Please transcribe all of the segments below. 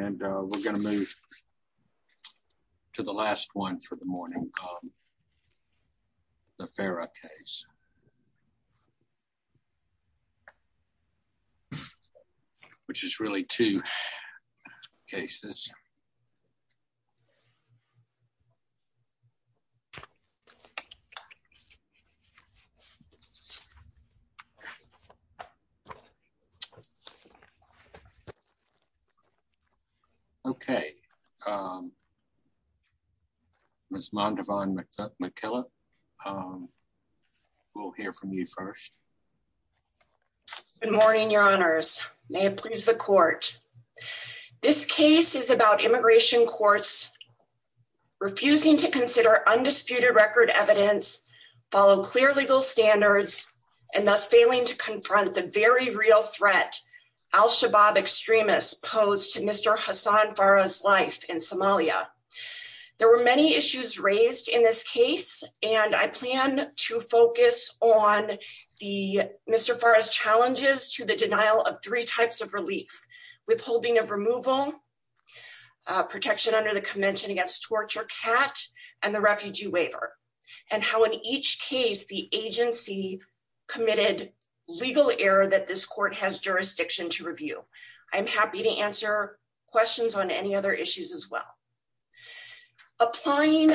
We're going to move to the last one for the morning. The Farah case, which is really two cases. Okay, Ms. Mondavon McKillop, we'll hear from you first. Good morning, your honors. May it please the court. This case is about immigration courts refusing to consider undisputed record evidence, follow clear legal standards, and thus failing to confront the very real threat al-Shabaab extremists posed to Mr. Hassan Farah's life in Somalia. There were many issues raised in this case, and I plan to focus on the Mr. Farah's challenges to the denial of three types of relief, withholding of removal, protection under the case the agency committed legal error that this court has jurisdiction to review. I'm happy to answer questions on any other issues as well. Applying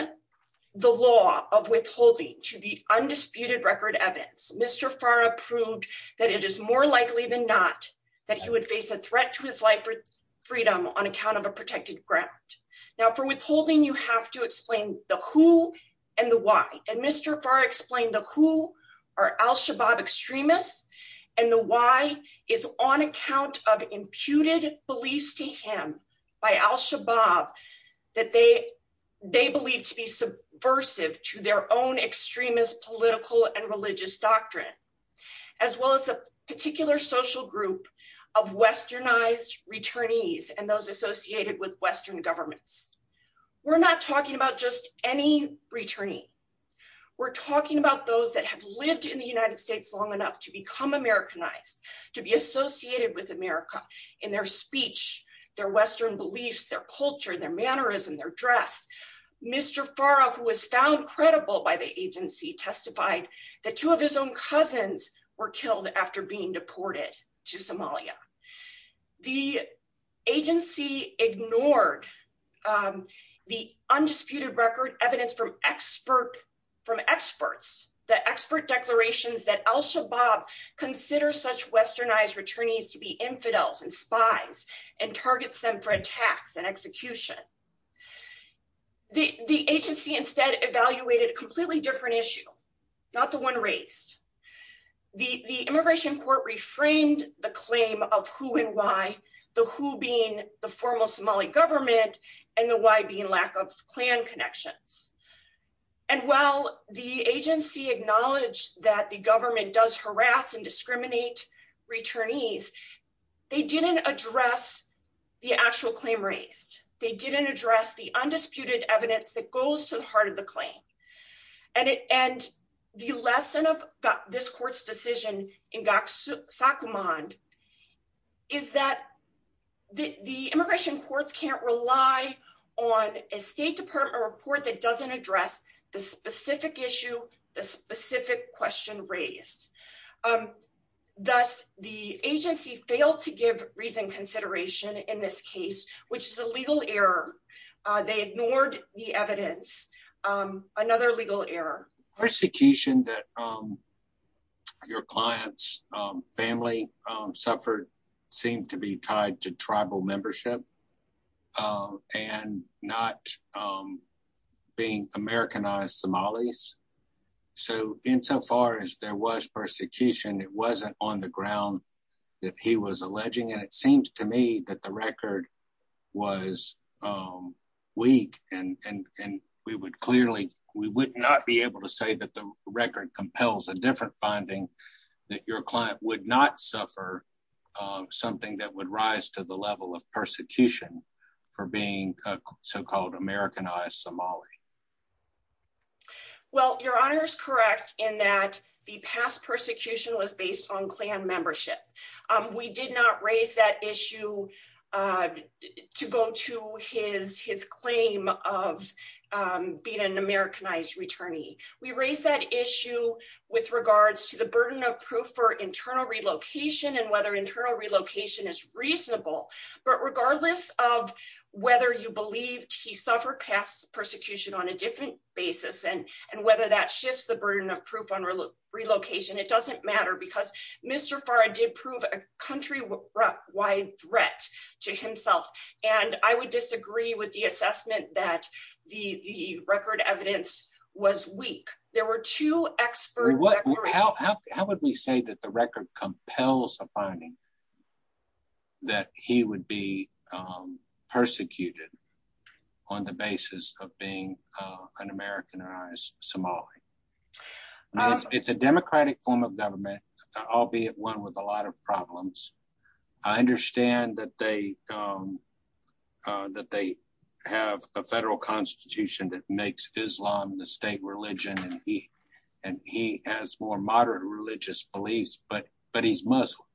the law of withholding to the undisputed record evidence, Mr. Farah proved that it is more likely than not that he would face a threat to his life for freedom on account of a protected grant. Now for withholding, you have to explain the who and the why. And Mr. Farah explained the who are al-Shabaab extremists, and the why is on account of imputed beliefs to him by al-Shabaab that they believe to be subversive to their own extremist political and religious doctrine, as well as a particular social group of westernized returnees and those associated with western governments. We're not talking about just any returnee. We're talking about those that have lived in the United States long enough to become Americanized, to be associated with America in their speech, their western beliefs, their culture, their mannerism, their dress. Mr. Farah, who was found credible by the agency, testified that two of his cousins were killed after being deported to Somalia. The agency ignored the undisputed record evidence from experts, the expert declarations that al-Shabaab considers such westernized returnees to be infidels and spies and targets them for attacks and execution. The agency instead evaluated a completely different issue, not the one raised. The immigration court reframed the claim of who and why, the who being the formal Somali government and the why being lack of clan connections. And while the agency acknowledged that the government does harass and discriminate returnees, they didn't address the actual claim raised. They didn't address the undisputed evidence that goes to the heart of the claim. And the lesson of this court's decision in Gakusakumand is that the immigration courts can't rely on a State Department report that doesn't address the specific issue, the specific question raised. Thus, the agency failed to give reason consideration in this case, which is a legal error. They ignored the evidence, another legal error. Persecution that your client's family suffered seemed to be tied to tribal membership and not being Americanized Somalis. So insofar as there was persecution, it wasn't on the ground that he was alleging. And it seems to me that the record was weak, and we would clearly, we would not be able to say that the record compels a different finding, that your client would not suffer something that would rise to the level of persecution for being a so-called Americanized Somali. Well, Your Honor is correct in that the past persecution was based on clan membership. We did not raise that issue to go to his claim of being an Americanized returnee. We raised that issue with regards to the burden of proof for internal relocation and whether internal relocation is reasonable. But regardless of whether you believed he suffered past persecution on a different basis, and whether that shifts the burden of proof on relocation, it doesn't matter because Mr. Farah did prove a countrywide threat to himself. And I would disagree with the assessment that the record evidence was weak. There were two expert- How would we say that the record compels a finding that he would be persecuted on the basis of being an Americanized Somali? It's a democratic form of government, albeit one with a lot of problems. I understand that they have a federal constitution that makes Islam the state religion, and he has more moderate religious beliefs, but he's Muslim.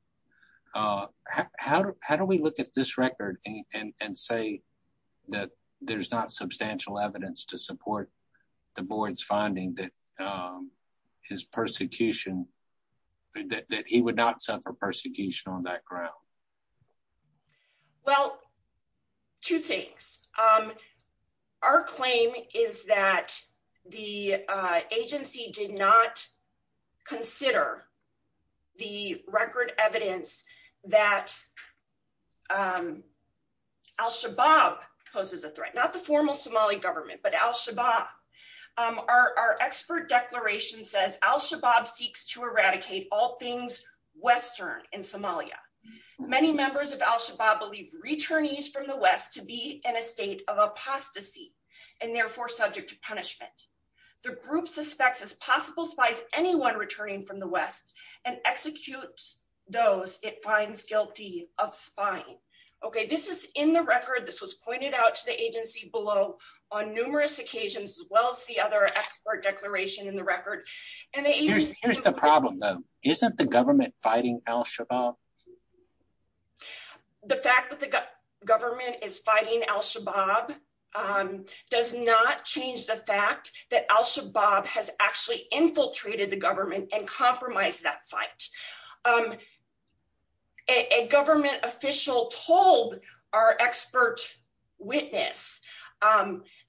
How do we look at this record and say that there's not substantial evidence to support the board's finding that he would not suffer persecution on that ground? Well, two things. Our claim is that the agency did not consider the record evidence that al-Shabaab poses a threat, not the formal Somali government, but al-Shabaab. Our expert declaration says al-Shabaab seeks to eradicate all things Western in Somalia. Many members of al-Shabaab believe returnees from the West to be in a state of apostasy and therefore subject to punishment. The group suspects as possible spies anyone returning from the West and executes those it finds guilty of spying. Okay, this is in the record. This was pointed out to the agency below on numerous occasions as well as the other expert declaration in the record. Here's the problem though. Isn't the government fighting al-Shabaab? The fact that the government is fighting al-Shabaab does not change the fact that al-Shabaab has actually infiltrated the government and compromised that fight. A government official told our expert witness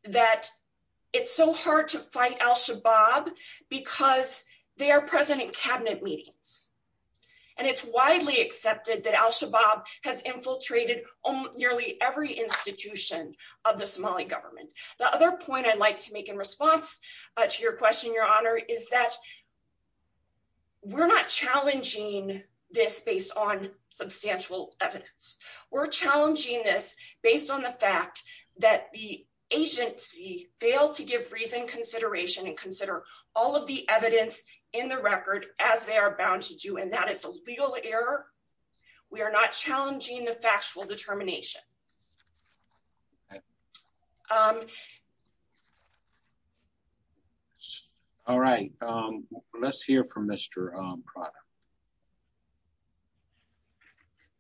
that it's so hard to fight al-Shabaab because they are present in cabinet meetings and it's widely accepted that al-Shabaab has infiltrated nearly every institution of the Somali government. The other point I'd like to make in response to your question, your honor, is that we're not challenging this based on substantial evidence. We're challenging this based on the fact that the agency failed to give reason consideration and consider all of the evidence in the record as they are bound to do and that is a legal error. We are not challenging the factual determination. All right, let's hear from Mr. Prada.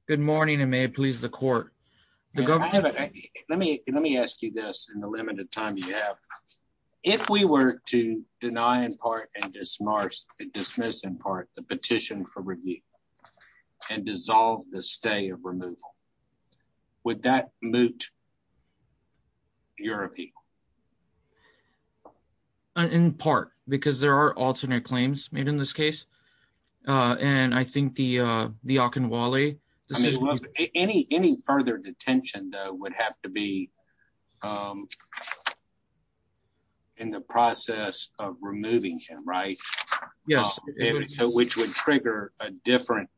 Good morning and may it please the court. Let me ask you this in the limited time you have. If we were to deny in part and dismiss in part the petition for review and dissolve the stay of removal, would that moot your appeal? In part because there are alternate claims made in this case and I think the Akinwale. I mean any further detention though would have to be in the process of removing him, right? Yes. Which would trigger a different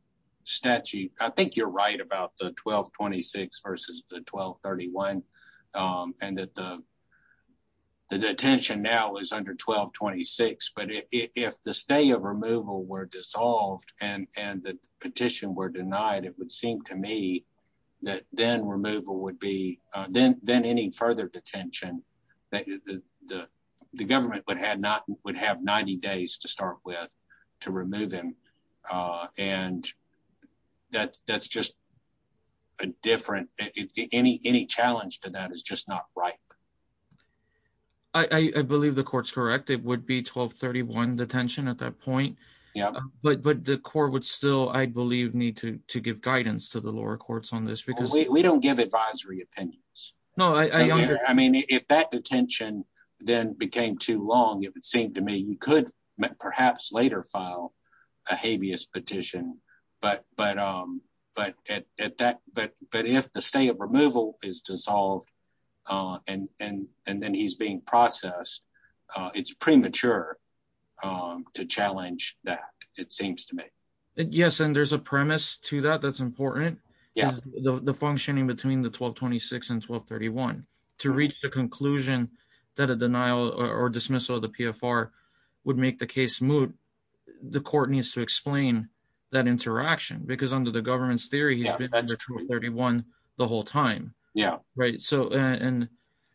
statute. I think you're right about the 1226 versus the 1231 and that the detention now is under 1226 but if the stay of denial, it would seem to me that then removal would be, then any further detention, the government would have 90 days to start with to remove him and that's just a different, any challenge to that is just not right. I believe the court's correct. It would be 1231 detention at that point but the to give guidance to the lower courts on this because we don't give advisory opinions. No, I mean if that detention then became too long, if it seemed to me you could perhaps later file a habeas petition but if the stay of removal is dissolved and then he's being processed, it's premature to challenge that it seems to me. Yes and there's a premise to that that's important. Yes. The functioning between the 1226 and 1231 to reach the conclusion that a denial or dismissal of the PFR would make the case moot, the court needs to explain that interaction because under the government's theory he's been under 1231 the whole time. Yeah. Right so and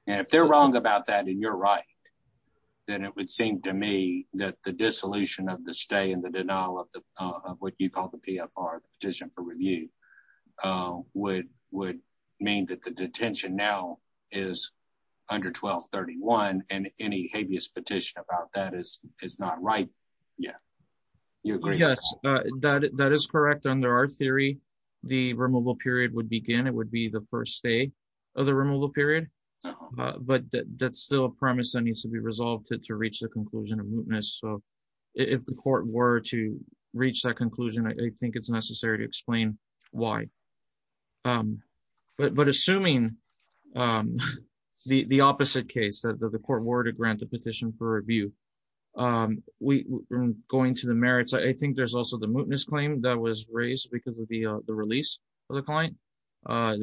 if they're wrong about that and you're right then it would seem to me that the dissolution of the stay and the denial of what you call the PFR, the petition for review, would mean that the detention now is under 1231 and any habeas petition about that is not right yet. Yes, that is correct. Under our theory the removal period would begin. It would be the first stay of the removal period but that's still a premise that needs to be resolved to reach the conclusion of mootness. So if the court were to reach that conclusion I think it's necessary to explain why. But assuming the opposite case that the court were to grant the petition for review, going to the merits, I think there's also the mootness claim that was raised because of the release of the client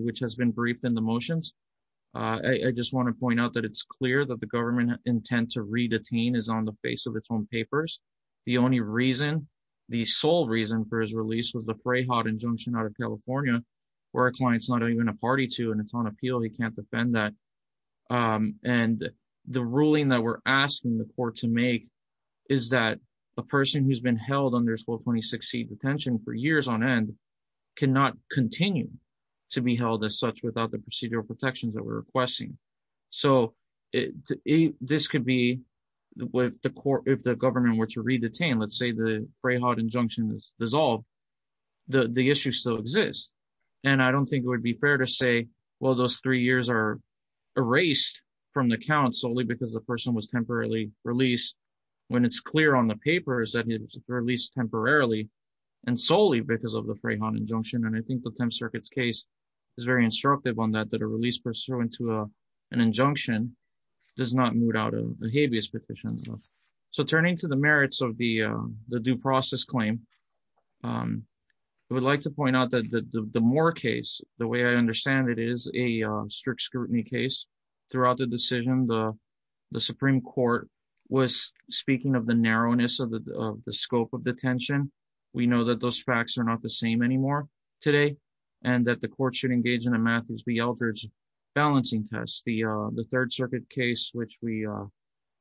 which has been briefed in the motions. I just want to point out that it's clear that the government intent to re-detain is on the face of its own papers. The only reason, the sole reason, for his release was the Freyhaught injunction out of California where a client's not even a party to and it's on appeal he can't defend that. And the ruling that we're asking the court to make is that a person who's been held under detention for years on end cannot continue to be held as such without the procedural protections that we're requesting. So this could be if the government were to re-detain, let's say the Freyhaught injunction is dissolved, the issue still exists. And I don't think it would be fair to say well those three years are erased from the count solely because the person was temporarily released when it's clear on the papers that he was released temporarily and solely because of the Freyhaught injunction. And I think the 10th Circuit's case is very instructive on that, that a release pursuant to an injunction does not moot out a habeas petition. So turning to the merits of the due process claim, I would like to point out that the Moore case, the way I understand it, is a strict scrutiny case. Throughout the decision the Supreme Court was speaking of the narrowness of the scope of detention. We know that those facts are not the same anymore today and that the court should engage in a Matthews v. Eldridge balancing test. The 3rd Circuit case, which we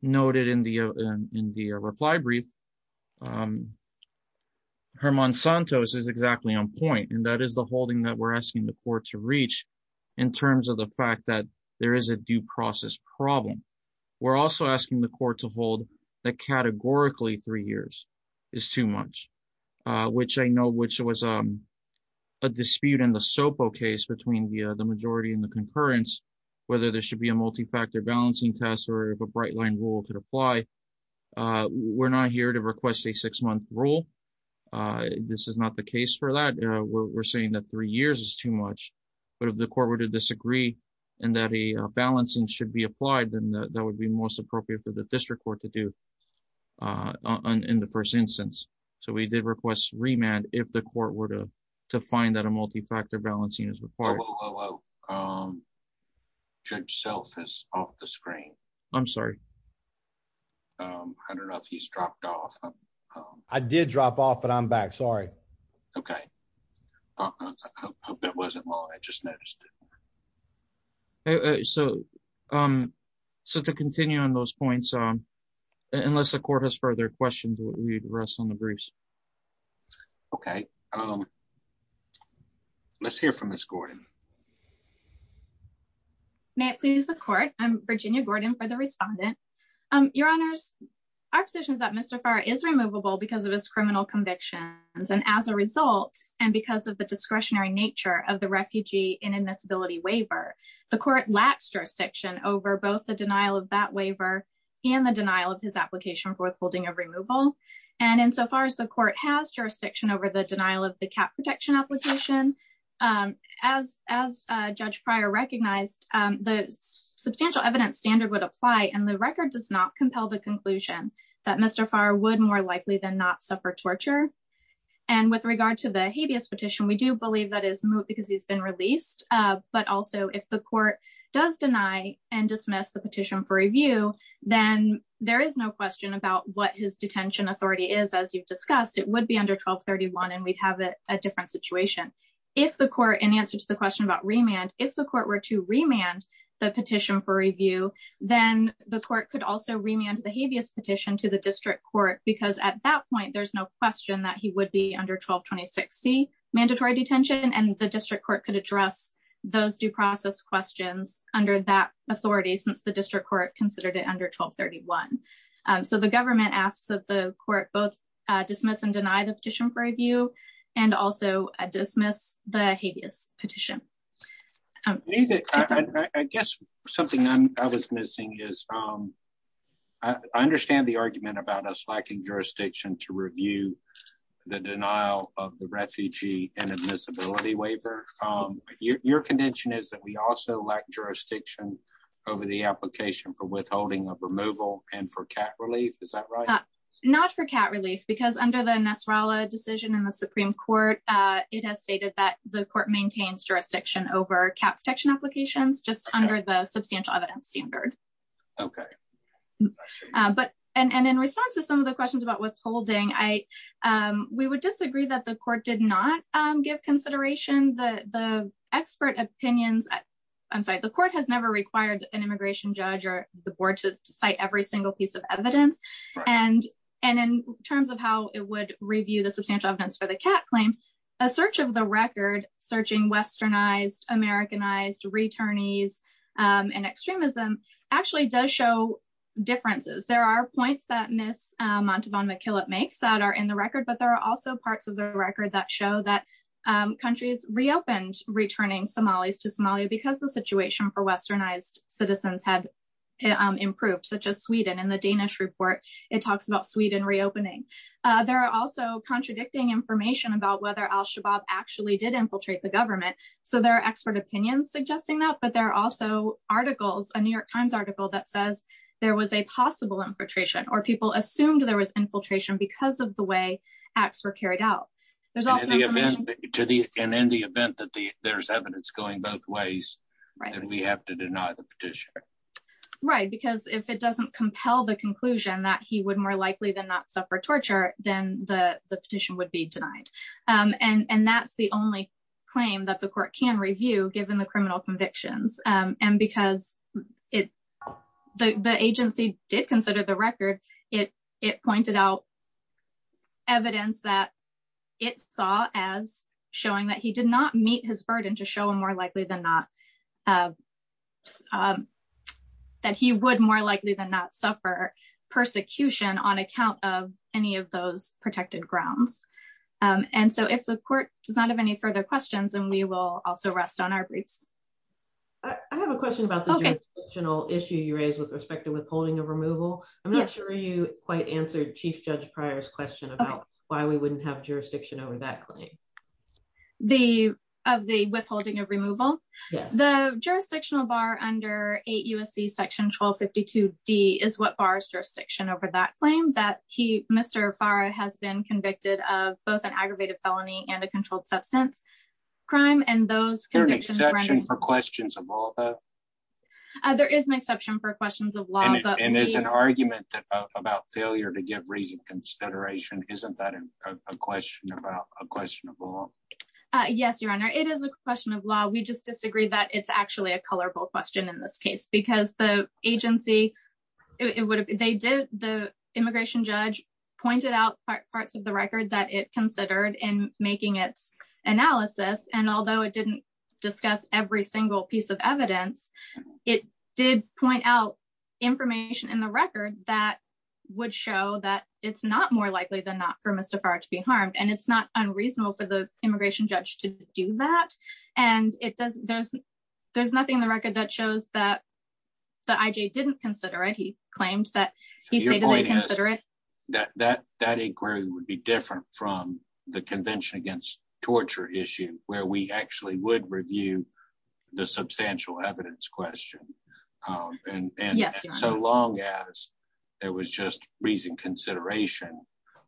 noted in the reply brief, Herman Santos is exactly on point and that is the holding that asking the court to reach in terms of the fact that there is a due process problem. We're also asking the court to hold that categorically three years is too much, which I know was a dispute in the Sopo case between the majority and the concurrence, whether there should be a multi-factor balancing test or if a bright line rule could apply. We're not here to request a six-month rule. This is not the case for that. We're saying that three years is too much, but if the court were to disagree and that a balancing should be applied, then that would be most appropriate for the district court to do in the first instance. So we did request remand if the court were to find that a multi-factor balancing is required. Whoa, whoa, whoa. Judge Self is off the screen. I'm sorry. I don't know if he's dropped off. I did drop off, but I'm back. Sorry. Okay. I hope that wasn't long. I just noticed. So to continue on those points, unless the court has further questions, we'd rest on the briefs. Okay. Let's hear from Ms. Gordon. May it please the court. I'm Virginia Gordon for the respondent. Your honors, our position is that Mr. Farr is removable because of his criminal convictions and as a result, and because of the discretionary nature of the refugee inadmissibility waiver, the court lacks jurisdiction over both the denial of that waiver and the denial of his application for withholding of removal. And insofar as the court has jurisdiction over the denial of the cap protection application, as Judge Pryor recognized, the substantial evidence standard would apply. And the record does not compel the conclusion that Mr. Farr would more likely than not suffer torture. And with regard to the habeas petition, we do believe that is moot because he's been released. But also if the court does deny and dismiss the petition for review, then there is no question about what his detention authority is. As you've discussed, it would be under 1231 and we'd have a different situation. If the court, in answer to the question about remand, if the court were to remand the petition for review, then the court could also remand the petition to the district court because at that point, there's no question that he would be under mandatory detention and the district court could address those due process questions under that authority since the district court considered it under 1231. So the government asks that the court both dismiss and deny the petition for review and also dismiss the habeas petition. I guess something I was missing is I understand the argument about us lacking jurisdiction to review the denial of the refugee and admissibility waiver. Your condition is that we also lack jurisdiction over the application for withholding of removal and for cat relief. Is that right? Not for cat relief, because under the Nassarallah decision in the Supreme Court, it has stated that the court maintains jurisdiction over cat protection applications just under the substantial evidence standard. And in response to some of the questions about withholding, we would disagree that the court did not give consideration the expert opinions. I'm sorry, the court has never required an immigration judge or the board to cite every single piece of evidence. And in terms of how it would review the substantial evidence for the cat claim, a search of the record searching westernized, Americanized, returnees, and extremism actually does show differences. There are points that Ms. Montalban-McKillop makes that are in the record, but there are also parts of the record that show that countries reopened returning Somalis to Somalia because the situation for westernized citizens had improved, such as Sweden. In the Danish report, it talks about Sweden reopening. There are also contradicting information about whether al-Shabaab actually did infiltrate the government. So there are expert opinions suggesting that, but there are also articles, a New York Times article that says there was a possible infiltration or people assumed there was infiltration because of the way acts were carried out. There's also the event that there's evidence going both ways, right, and we have to deny the petition. Right, because if it doesn't compel the conclusion that he would more likely than not suffer torture, then the petition would be denied. And that's the only claim that the court can review given the criminal convictions. And because it, the agency did consider the record, it pointed out evidence that it saw as showing that he did not meet his burden to show him more likely than not, that he would more likely than not suffer persecution on account of any of those protected grounds. And so if the court does not have any further questions, then we will also rest on our briefs. I have a question about the jurisdictional issue you raised with respect to withholding of removal. I'm not sure you quite answered Chief Judge Pryor's question about why we wouldn't have jurisdiction over that claim. The, of the withholding of removal? Yes. The jurisdictional bar under 8 U.S.C. section 1252 D is what bars jurisdiction over that claim that he, Mr. Farah has been convicted of both an aggravated felony and a controlled substance crime. And those convictions- There's an exception for questions of law though? There is an exception for questions of law. And there's an argument about failure to give reason consideration. Isn't that a question about, a question of law? Yes, Your Honor, it is a question of law. We just disagree that it's actually a colorful question in this case because the agency, it would have, they did, the immigration judge pointed out parts of the record that it considered in making its analysis. And although it didn't discuss every single piece of evidence, it did point out information in the record that would show that it's not more likely than not for Mr. Farah to be harmed. And it's not unreasonable for the immigration judge to do that. And it does, there's, there's nothing in the record that shows that the I.J. didn't consider it. He claimed that he said that they consider it. That inquiry would be different from the convention against torture issue where we actually would review the substantial evidence question. And so long as there was just reason consideration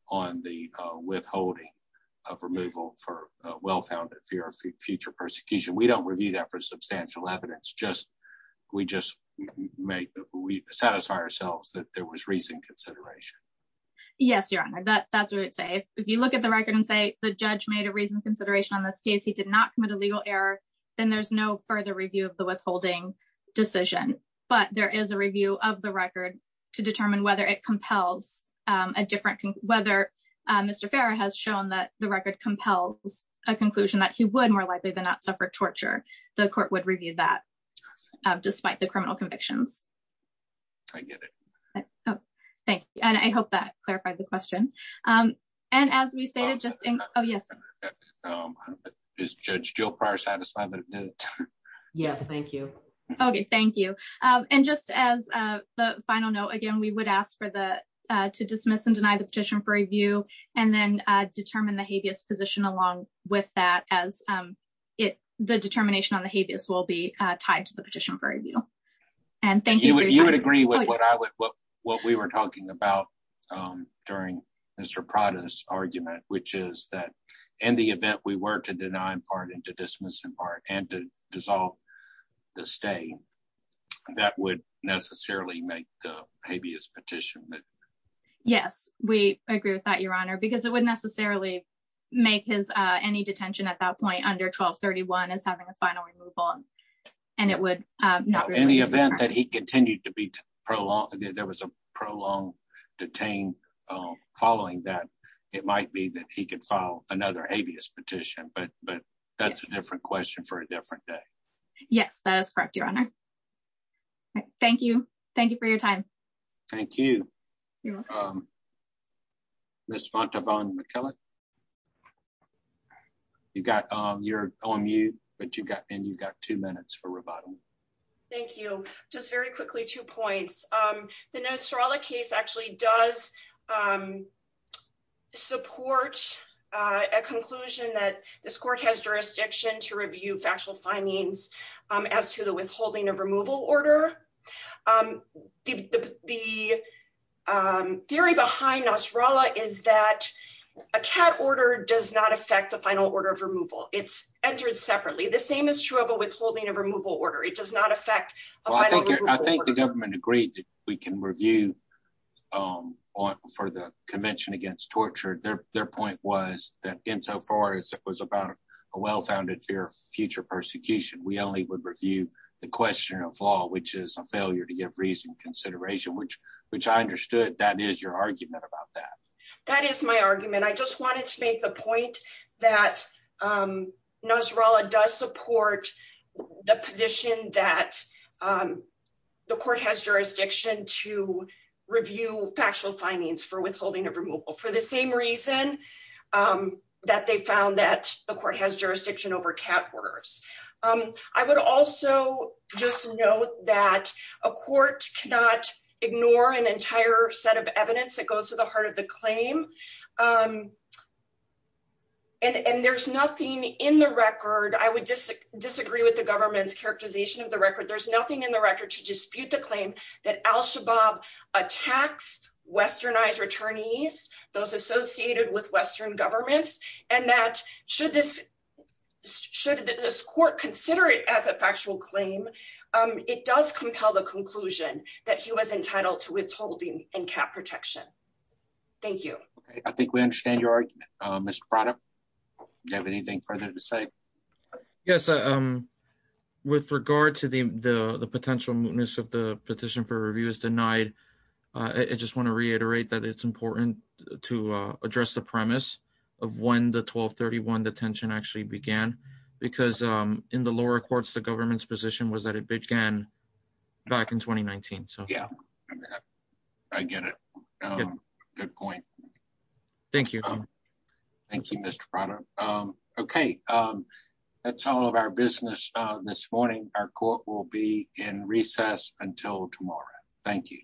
on the withholding of removal for a well-founded fear of future persecution, we don't review that for substantial evidence. Just, we just make, we satisfy ourselves that there was reason consideration. Yes, Your Honor, that's what I would say. If you look at the record and say the judge made a reason consideration on this case, he did not commit a legal error, then there's no further review of the withholding decision. But there is a review of the record to determine whether it compels a different, whether Mr. Farah has shown that the record compels a conclusion that he would more likely than not suffer torture. The court would review that despite the criminal convictions. I get it. Oh, thank you. And I hope that clarified the question. And as we say, just, oh yes. Is Judge Jill Pryor satisfied? Yes, thank you. Okay, thank you. And just as a final note, again, we would ask for the, to dismiss and deny the petition for review, and then determine the habeas position along with that as it, the determination on the habeas will be tied to the petition for review. And thank you. You would agree with what we were talking about during Mr. Prada's argument, which is that in the event we were to deny and pardon, to dismiss and pardon, and to dissolve the stay, that would necessarily make the habeas petition. Yes, we agree with that, Your Honor, because it would necessarily make his, any detention at that point under 1231 as having a final removal. And it would not be in the event that he continued to be prolonged, there was a prolonged detain, following that, it might be that he could file another habeas petition. But, but that's a different question for a different day. Yes, that is correct, Your Honor. Thank you. Thank you for your time. Thank you. Ms. Montavon-McKellar. You've got, you're on mute, but you've got, and you've got two minutes for rebuttal. Thank you. Just very quickly, two points. The Nasrallah case actually does support a conclusion that this court has jurisdiction to review factual findings as to the withholding of removal order. The theory behind Nasrallah is that a cat order does not affect the final order of removal. It's entered separately. The same is true of withholding of removal order. It does not affect a final removal order. I think the government agreed that we can review for the Convention Against Torture. Their point was that insofar as it was about a well-founded fear of future persecution, we only would review the question of law, which is a failure to give reason consideration, which I understood that is your argument about that. That is my argument. I just wanted to make the point that Nasrallah does support the position that the court has jurisdiction to review factual findings for withholding of removal for the same reason that they found that the court has jurisdiction over cat orders. I would also just note that a court cannot ignore an entire set of evidence that goes to the heart of the claim. There's nothing in the record. I would disagree with the government's characterization of the record. There's nothing in the record to dispute the claim that al-Shabaab attacks westernized returnees, those associated with western governments. Should this court consider it as a factual claim, it does compel the conclusion that he was entitled to withholding and cat protection. Thank you. I think we understand your argument, Mr. Prada. Do you have anything further to say? Yes. With regard to the potential mootness of the petition for review as denied, I just want to reiterate that it's important to address the premise of when the 1231 detention actually began because in the lower courts, the government's position was that it began back in 2019. I get it. Good point. Thank you. Thank you, Mr. Prada. Okay. That's all of our business this morning. Our court will be in recess until tomorrow. Thank you.